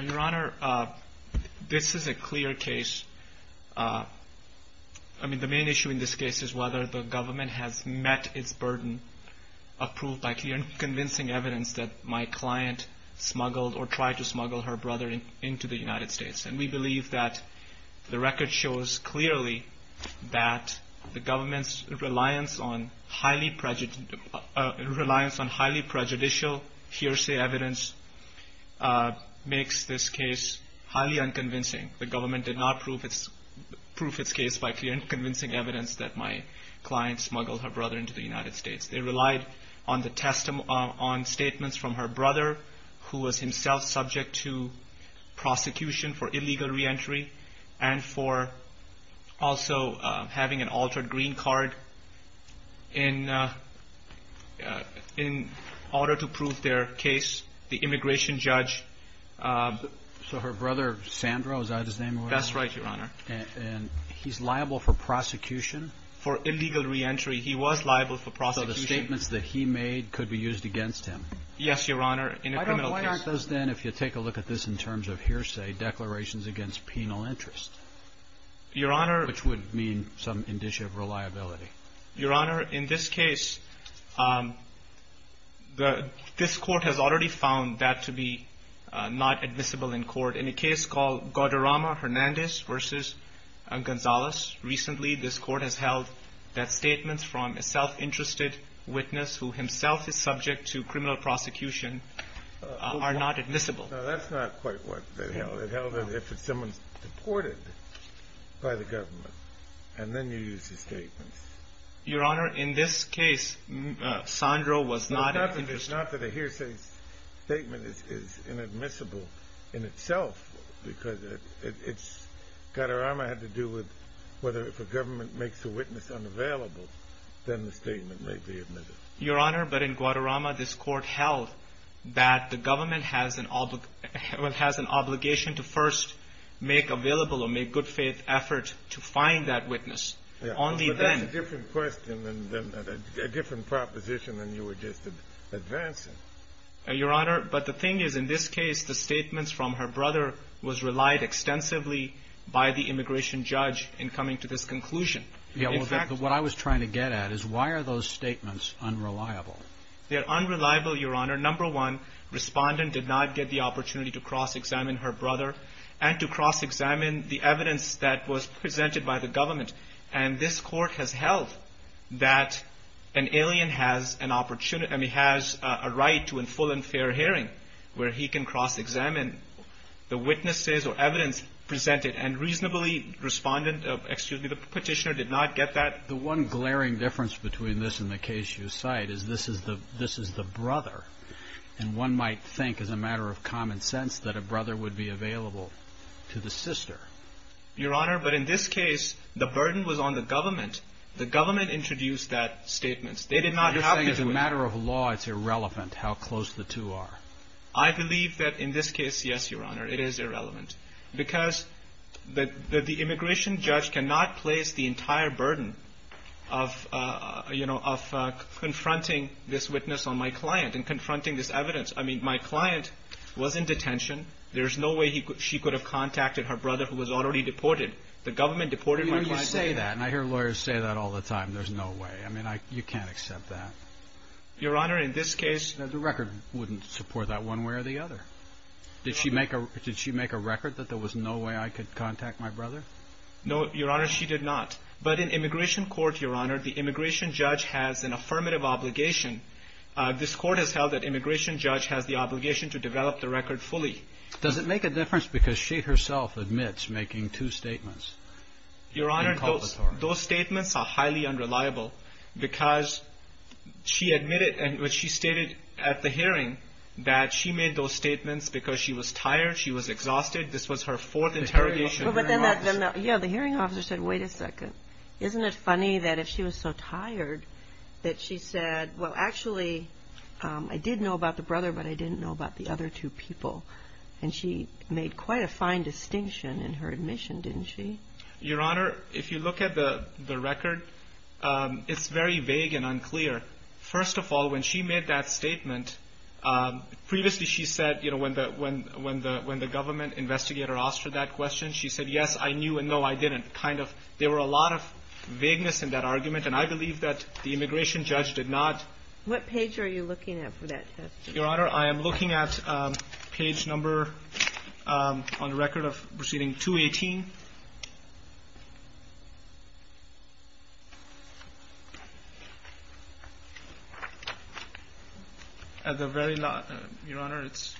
Your Honor, this is a clear case. I mean the main issue in this case is whether the government has met its burden approved by clear and convincing evidence that my client smuggled or tried to smuggle her brother into the United States. And we believe that the record shows clearly that the government's reliance on highly prejudicial hearsay evidence makes this case highly unconvincing. The government did not prove its case by clear and convincing evidence that my client smuggled her brother into the United States. They relied on statements from her brother who was himself subject to prosecution for illegal reentry and for also having an altered green card in order to prove their case. The immigration judge... So her brother, Sandro, is that his name? That's right, Your Honor. And he's liable for prosecution? For illegal reentry, he was liable for prosecution. So the statements that he made could be used against him? Yes, Your Honor, in a criminal case. Why aren't those then, if you take a look at this in terms of hearsay, declarations against penal interest? Your Honor... Which would mean some indicia of reliability. Your Honor, in this case, this court has already found that to be not admissible in court. In a case called Gauderama-Hernandez v. Gonzalez, recently this court has held that statements from a self-interested witness who himself is subject to criminal prosecution are not admissible. No, that's not quite what they held. They held that if someone's deported by the government, and then you use the statements. Your Honor, in this case, Sandro was not... It's not that a hearsay statement is inadmissible in itself, because it's... Whether if a government makes a witness unavailable, then the statement may be admissible. Your Honor, but in Gauderama, this court held that the government has an obligation to first make available or make good faith effort to find that witness. Only then... But that's a different question and a different proposition than you were just advancing. Your Honor, but the thing is, in this case, the statements from her brother was relied extensively by the immigration judge in coming to this conclusion. What I was trying to get at is, why are those statements unreliable? They're unreliable, Your Honor. Number one, respondent did not get the opportunity to cross-examine her brother, and to cross-examine the evidence that was presented by the government. And this court has held that an alien has an opportunity... I mean, has a right to a full and fair hearing, where he can cross-examine the witnesses or evidence presented. And reasonably, respondent... Excuse me, the petitioner did not get that. The one glaring difference between this and the case you cite is this is the brother. And one might think, as a matter of common sense, that a brother would be available to the sister. Your Honor, but in this case, the burden was on the government. The government introduced that statement. You're saying as a matter of law, it's irrelevant how close the two are. I believe that in this case, yes, Your Honor, it is irrelevant. Because the immigration judge cannot place the entire burden of confronting this witness on my client and confronting this evidence. I mean, my client was in detention. There's no way she could have contacted her brother who was already deported. The government deported my client... You say that, and I hear lawyers say that all the time. There's no way. I mean, you can't accept that. Your Honor, in this case... The record wouldn't support that one way or the other. Did she make a record that there was no way I could contact my brother? No, Your Honor, she did not. But in immigration court, Your Honor, the immigration judge has an affirmative obligation. This court has held that immigration judge has the obligation to develop the record fully. Does it make a difference because she herself admits making two statements? Your Honor, those statements are highly unreliable because she admitted, and she stated at the hearing, that she made those statements because she was tired, she was exhausted. This was her fourth interrogation. Yeah, the hearing officer said, wait a second. Isn't it funny that if she was so tired that she said, well, actually, I did know about the brother, but I didn't know about the other two people. And she made quite a fine distinction in her admission, didn't she? Your Honor, if you look at the record, it's very vague and unclear. First of all, when she made that statement, previously she said, you know, when the government investigator asked her that question, she said, yes, I knew, and no, I didn't. And kind of there were a lot of vagueness in that argument, and I believe that the immigration judge did not. What page are you looking at for that testimony? Your Honor, I am looking at page number, on the record of proceeding, 218. At the very last, Your Honor, it's.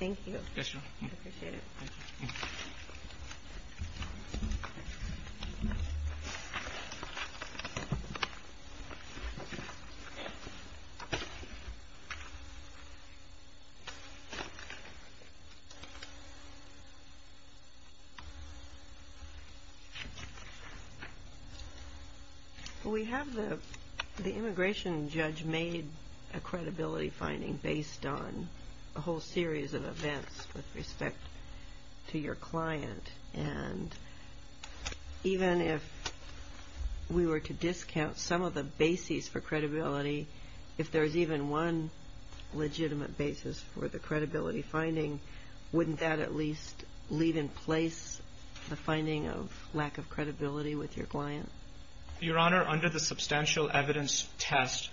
Thank you. Yes, Your Honor. I appreciate it. Thank you. Thank you. Thank you. We have the immigration judge made a credibility finding based on a whole series of events with respect to your client. And even if we were to discount some of the bases for credibility, if there is even one legitimate basis for the credibility finding, wouldn't that at least leave in place the finding of lack of credibility with your client? Your Honor, under the substantial evidence test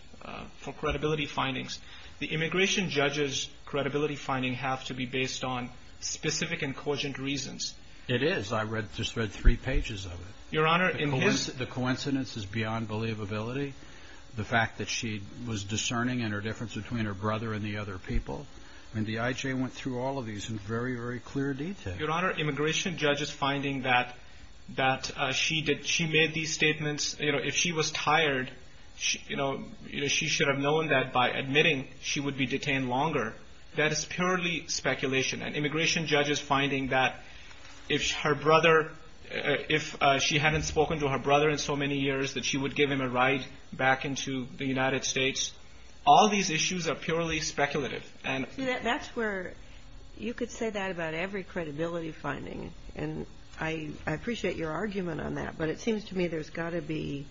for credibility findings, the immigration judge's credibility finding have to be based on specific and cogent reasons. It is. I just read three pages of it. Your Honor, in his. The coincidence is beyond believability. The fact that she was discerning in her difference between her brother and the other people. And the IJ went through all of these in very, very clear detail. Your Honor, immigration judge's finding that she made these statements, if she was tired, she should have known that by admitting, she would be detained longer. That is purely speculation. And immigration judge's finding that if her brother, if she hadn't spoken to her brother in so many years, that she would give him a ride back into the United States. All these issues are purely speculative. That's where you could say that about every credibility finding. And I appreciate your argument on that. But it seems to me there's got to be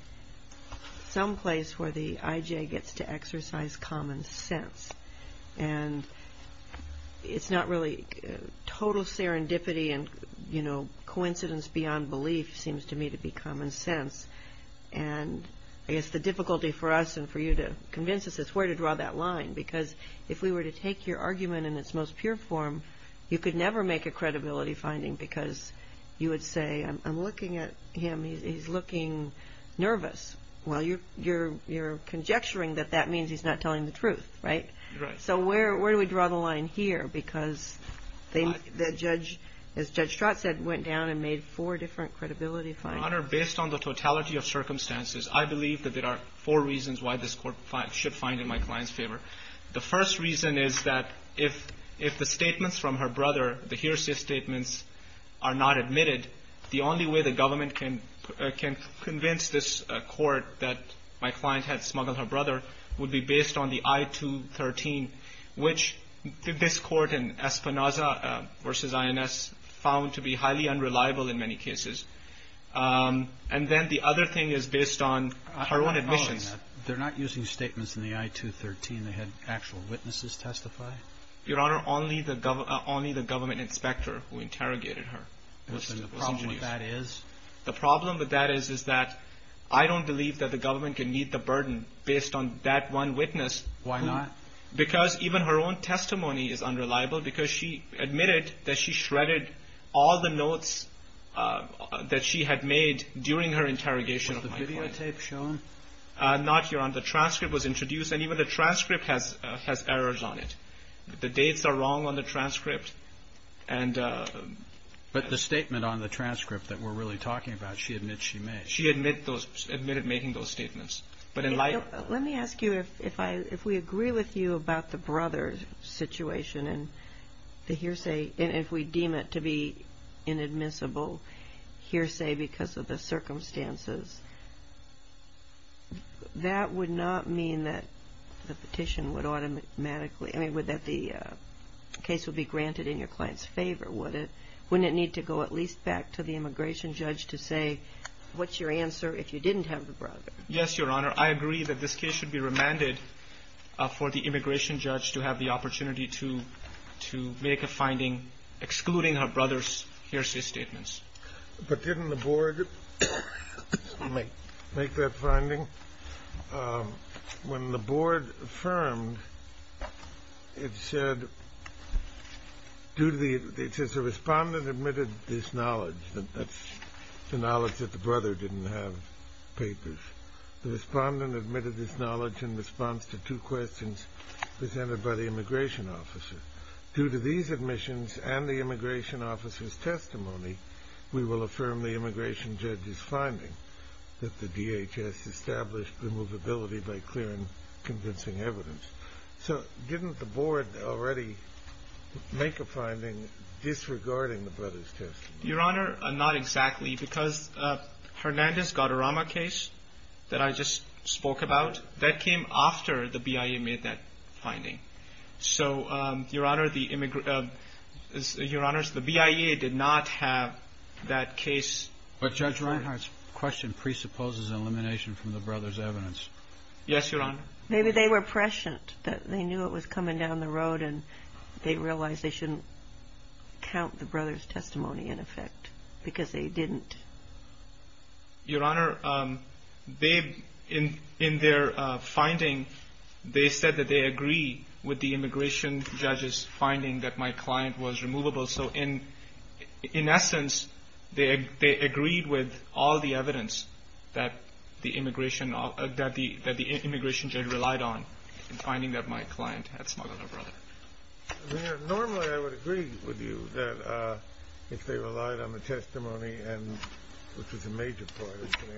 some place where the IJ gets to exercise common sense. And it's not really total serendipity and, you know, coincidence beyond belief seems to me to be common sense. And I guess the difficulty for us and for you to convince us is where to draw that line. Because if we were to take your argument in its most pure form, you could never make a credibility finding. Because you would say, I'm looking at him, he's looking nervous. Well, you're conjecturing that that means he's not telling the truth, right? So where do we draw the line here? Because the judge, as Judge Stratton said, went down and made four different credibility findings. Your Honor, based on the totality of circumstances, I believe that there are four reasons why this Court should find in my client's favor. The first reason is that if the statements from her brother, the hearsay statements, are not admitted, the only way the government can convince this Court that my client had smuggled her brother would be based on the I-213, which this Court in Espinoza v. INS found to be highly unreliable in many cases. And then the other thing is based on her own admissions. They're not using statements in the I-213. They had actual witnesses testify. Your Honor, only the government inspector who interrogated her. And the problem with that is? I don't believe that the government can meet the burden based on that one witness. Why not? Because even her own testimony is unreliable because she admitted that she shredded all the notes that she had made during her interrogation. Was the videotape shown? Not, Your Honor. The transcript was introduced, and even the transcript has errors on it. The dates are wrong on the transcript. But the statement on the transcript that we're really talking about, she admits she made. She admitted making those statements. Let me ask you, if we agree with you about the brother situation and the hearsay, and if we deem it to be inadmissible hearsay because of the circumstances, that would not mean that the case would be granted in your client's favor, would it? Wouldn't it need to go at least back to the immigration judge to say, what's your answer if you didn't have the brother? Yes, Your Honor. I agree that this case should be remanded for the immigration judge to have the opportunity to make a finding excluding her brother's hearsay statements. But didn't the board make that finding? When the board affirmed, it said, the respondent admitted this knowledge. That's the knowledge that the brother didn't have papers. The respondent admitted this knowledge in response to two questions presented by the immigration officer. Due to these admissions and the immigration officer's testimony, we will affirm the immigration judge's finding that the DHS established removability by clear and convincing evidence. So didn't the board already make a finding disregarding the brother's testimony? Your Honor, not exactly, because Hernandez-Guardarama case that I just spoke about, that came after the BIA made that finding. So, Your Honor, the BIA did not have that case. But Judge Reinhardt's question presupposes elimination from the brother's evidence. Yes, Your Honor. Maybe they were prescient, that they knew it was coming down the road, and they realized they shouldn't count the brother's testimony in effect because they didn't. Your Honor, in their finding, they said that they agree with the immigration judge's finding that my client was removable. So, in essence, they agreed with all the evidence that the immigration judge relied on in finding that my client had smuggled the brother. Normally, I would agree with you that if they relied on the testimony, which was a major part,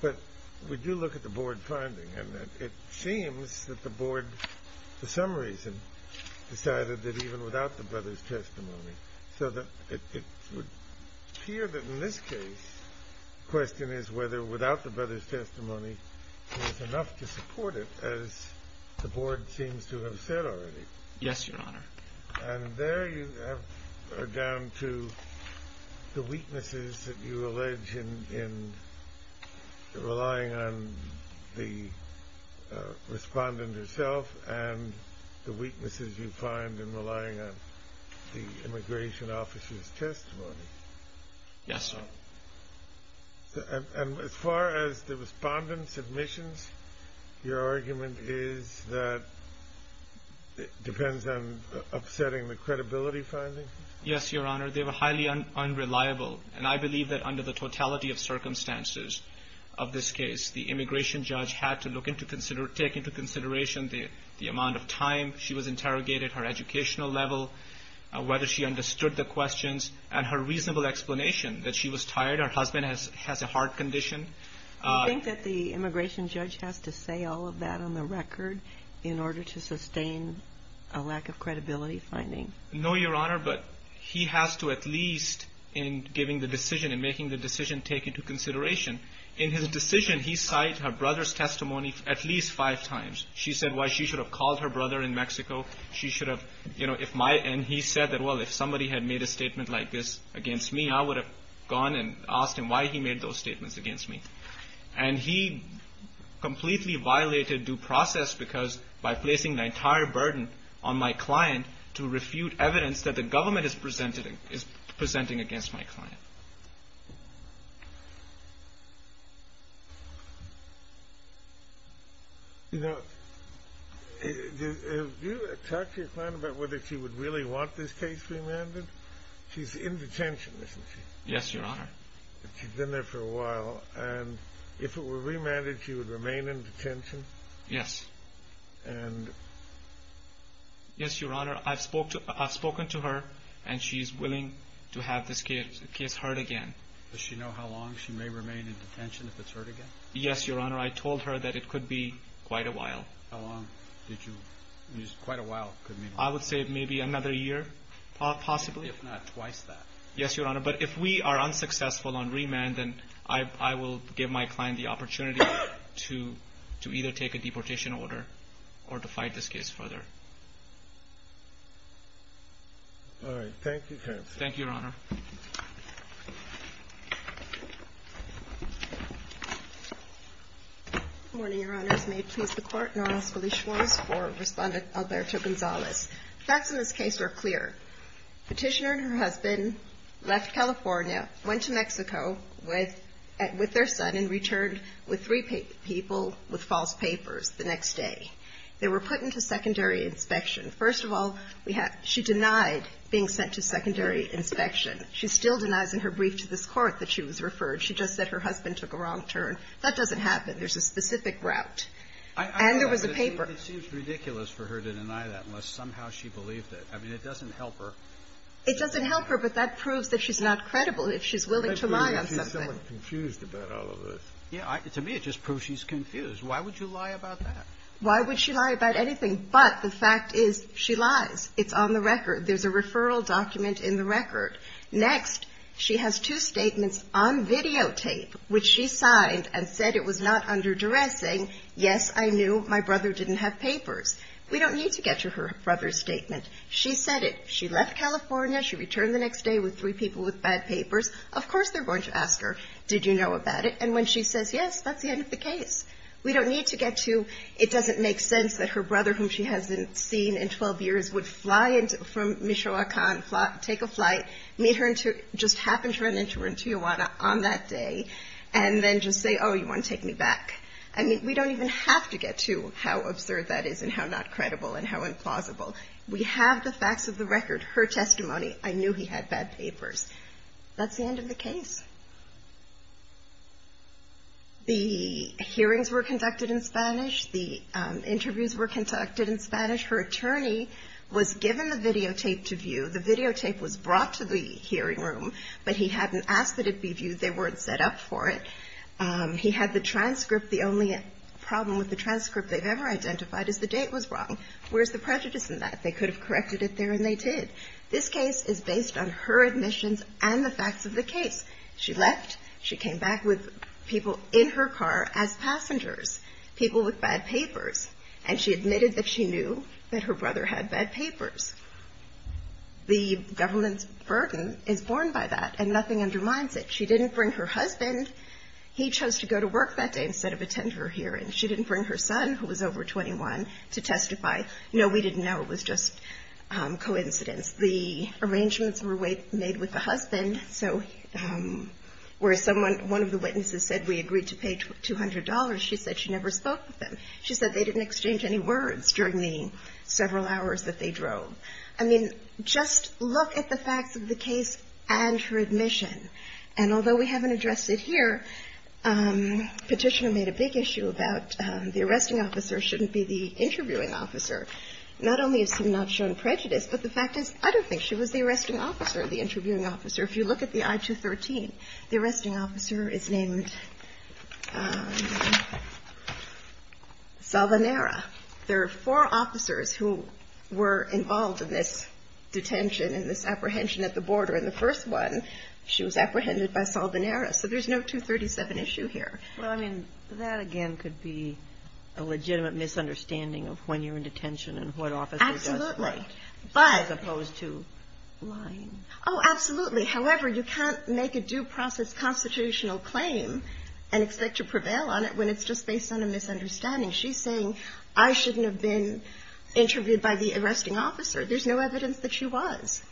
but we do look at the board finding, and it seems that the board, for some reason, decided that even without the brother's testimony. So it would appear that in this case, the question is whether without the brother's testimony, there's enough to support it, as the board seems to have said already. Yes, Your Honor. And there you are down to the weaknesses that you allege in relying on the respondent herself and the weaknesses you find in relying on the immigration officer's testimony. Yes, sir. And as far as the respondent submissions, your argument is that it depends on upsetting the credibility finding? Yes, Your Honor. They were highly unreliable, and I believe that under the totality of circumstances of this case, the immigration judge had to take into consideration the amount of time she was interrogated, her educational level, whether she understood the questions, and her reasonable explanation that she was tired, her husband has a heart condition. Do you think that the immigration judge has to say all of that on the record in order to sustain a lack of credibility finding? No, Your Honor, but he has to at least in giving the decision and making the decision take into consideration. In his decision, he cited her brother's testimony at least five times. She said why she should have called her brother in Mexico. And he said that, well, if somebody had made a statement like this against me, I would have gone and asked him why he made those statements against me. And he completely violated due process because by placing the entire burden on my client to refute evidence that the government is presenting against my client. You know, did you talk to your client about whether she would really want this case remanded? She's in detention, isn't she? Yes, Your Honor. She's been there for a while, and if it were remanded, she would remain in detention? Yes. Yes, Your Honor, I've spoken to her, and she's willing to have this case heard again. Does she know how long she may remain in detention if it's heard again? Yes, Your Honor. I told her that it could be quite a while. How long? Quite a while could mean? I would say maybe another year, possibly. If not, twice that. Yes, Your Honor, but if we are unsuccessful on remand, then I will give my client the opportunity to either take a deportation order or to fight this case further. All right. Thank you, counsel. Thank you, Your Honor. Good morning, Your Honors. May it please the Court, Your Honor, I'm Felice Schwartz for Respondent Alberto Gonzalez. The facts in this case are clear. Petitioner and her husband left California, went to Mexico with their son, and returned with three people with false papers the next day. They were put into secondary inspection. First of all, she denied being sent to secondary inspection. She still denies in her brief to this Court that she was referred. She just said her husband took a wrong turn. That doesn't happen. There's a specific route. And there was a paper. It seems ridiculous for her to deny that unless somehow she believed it. I mean, it doesn't help her. It doesn't help her, but that proves that she's not credible if she's willing to lie on something. She's still confused about all of this. Yeah. To me, it just proves she's confused. Why would you lie about that? Why would she lie about anything? But the fact is she lies. It's on the record. There's a referral document in the record. Next, she has two statements on videotape which she signed and said it was not underdressing. Yes, I knew my brother didn't have papers. We don't need to get to her brother's statement. She said it. She left California. She returned the next day with three people with bad papers. Of course they're going to ask her, did you know about it? And when she says yes, that's the end of the case. We don't need to get to it doesn't make sense that her brother, whom she hasn't seen in 12 years, would fly from Michoacan, take a flight, meet her and just happen to run into her in Tijuana on that day, and then just say, oh, you want to take me back. I mean, we don't even have to get to how absurd that is and how not credible and how implausible. We have the facts of the record, her testimony. I knew he had bad papers. That's the end of the case. The hearings were conducted in Spanish. The interviews were conducted in Spanish. Her attorney was given the videotape to view. The videotape was brought to the hearing room, but he hadn't asked that it be viewed. They weren't set up for it. He had the transcript. The only problem with the transcript they've ever identified is the date was wrong. Where's the prejudice in that? They could have corrected it there, and they did. This case is based on her admissions and the facts of the case. She left. She came back with people in her car as passengers, people with bad papers, and she admitted that she knew that her brother had bad papers. The government's burden is borne by that, and nothing undermines it. She didn't bring her husband. He chose to go to work that day instead of attend her hearing. She didn't bring her son, who was over 21, to testify. No, we didn't know. It was just coincidence. The arrangements were made with the husband, so where one of the witnesses said we agreed to pay $200, she said she never spoke with them. She said they didn't exchange any words during the several hours that they drove. I mean, just look at the facts of the case and her admission. And although we haven't addressed it here, petitioner made a big issue about the arresting officer shouldn't be the interviewing officer. Not only has she not shown prejudice, but the fact is I don't think she was the arresting officer, the interviewing officer. If you look at the I-213, the arresting officer is named Salvanera. There are four officers who were involved in this detention and this apprehension at the border. And the first one, she was apprehended by Salvanera. So there's no 237 issue here. Well, I mean, that again could be a legitimate misunderstanding of when you're in detention and what officer does what. Absolutely. As opposed to lying. Oh, absolutely. However, you can't make a due process constitutional claim and expect to prevail on it when it's just based on a misunderstanding. She's saying I shouldn't have been interviewed by the arresting officer. There's no evidence that she was.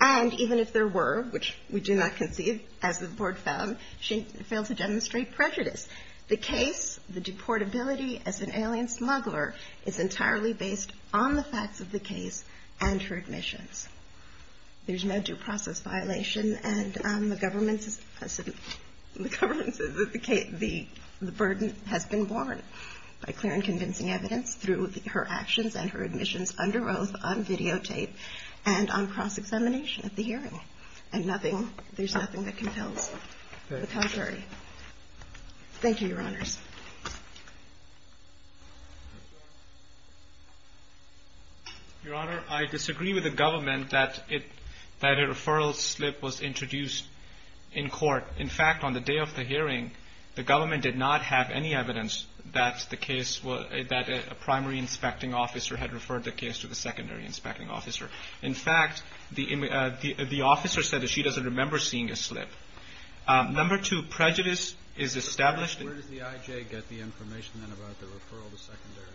And even if there were, which we do not conceive, as the board found, she failed to demonstrate prejudice. The case, the deportability as an alien smuggler, is entirely based on the facts of the case and her admissions. There's no due process violation. And the government says that the burden has been borne by clear and convincing evidence through her actions and her admissions under oath on videotape and on cross-examination at the hearing. And nothing, there's nothing that compels the Calgary. Thank you, Your Honors. Your Honor, I disagree with the government that a referral slip was introduced in court. In fact, on the day of the hearing, the government did not have any evidence that the case, that a primary inspecting officer had referred the case to the secondary inspecting officer. In fact, the officer said that she doesn't remember seeing a slip. Number two, prejudice is established. Where does the I.J. get the information then about the referral to secondary?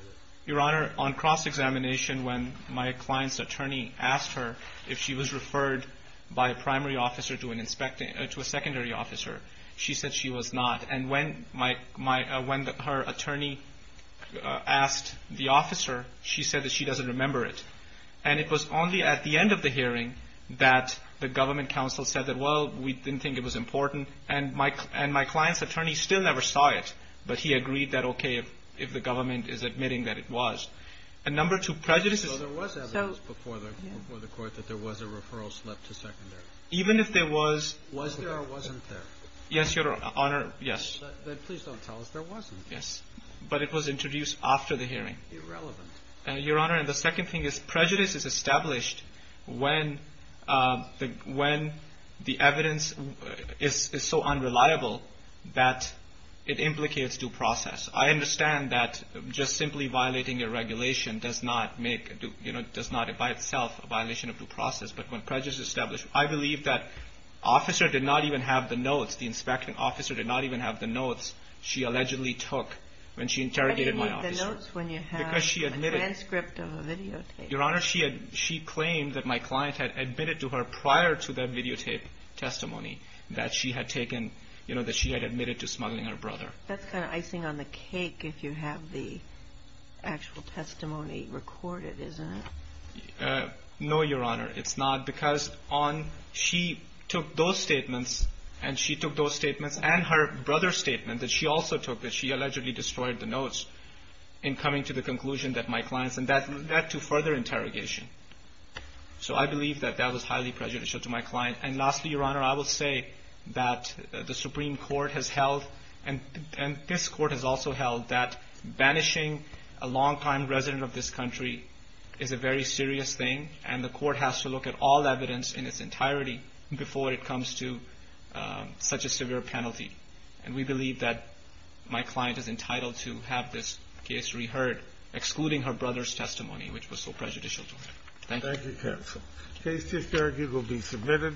Your Honor, on cross-examination, when my client's attorney asked her if she was referred by a primary officer to a secondary officer, she said she was not. And when her attorney asked the officer, she said that she doesn't remember it. And it was only at the end of the hearing that the government counsel said that, well, we didn't think it was important. And my client's attorney still never saw it, but he agreed that, okay, if the government is admitting that it was. And number two, prejudice is – So there was evidence before the court that there was a referral slip to secondary. Even if there was – Was there or wasn't there? Yes, Your Honor. Yes. Please don't tell us there wasn't. Yes. But it was introduced after the hearing. Irrelevant. Your Honor, and the second thing is prejudice is established when the evidence is so unreliable that it implicates due process. I understand that just simply violating a regulation does not make – does not by itself a violation of due process. But when prejudice is established, I believe that officer did not even have the notes, the inspecting officer did not even have the notes she allegedly took when she interrogated my officer. But you need the notes when you have a transcript of a videotape. Your Honor, she claimed that my client had admitted to her prior to that videotape testimony that she had taken – that she had admitted to smuggling her brother. That's kind of icing on the cake if you have the actual testimony recorded, isn't it? No, Your Honor, it's not. Because on – she took those statements and she took those statements and her brother's statement that she also took that she allegedly destroyed the notes in coming to the conclusion that my client's – and that led to further interrogation. So I believe that that was highly prejudicial to my client. And lastly, Your Honor, I will say that the Supreme Court has held and this Court has also held that banishing a long-time resident of this country is a very serious thing, and the Court has to look at all evidence in its entirety before it comes to such a severe penalty. And we believe that my client is entitled to have this case reheard, excluding her brother's testimony, which was so prejudicial to her. Thank you. Thank you, counsel. Case disbarred. You will be submitted.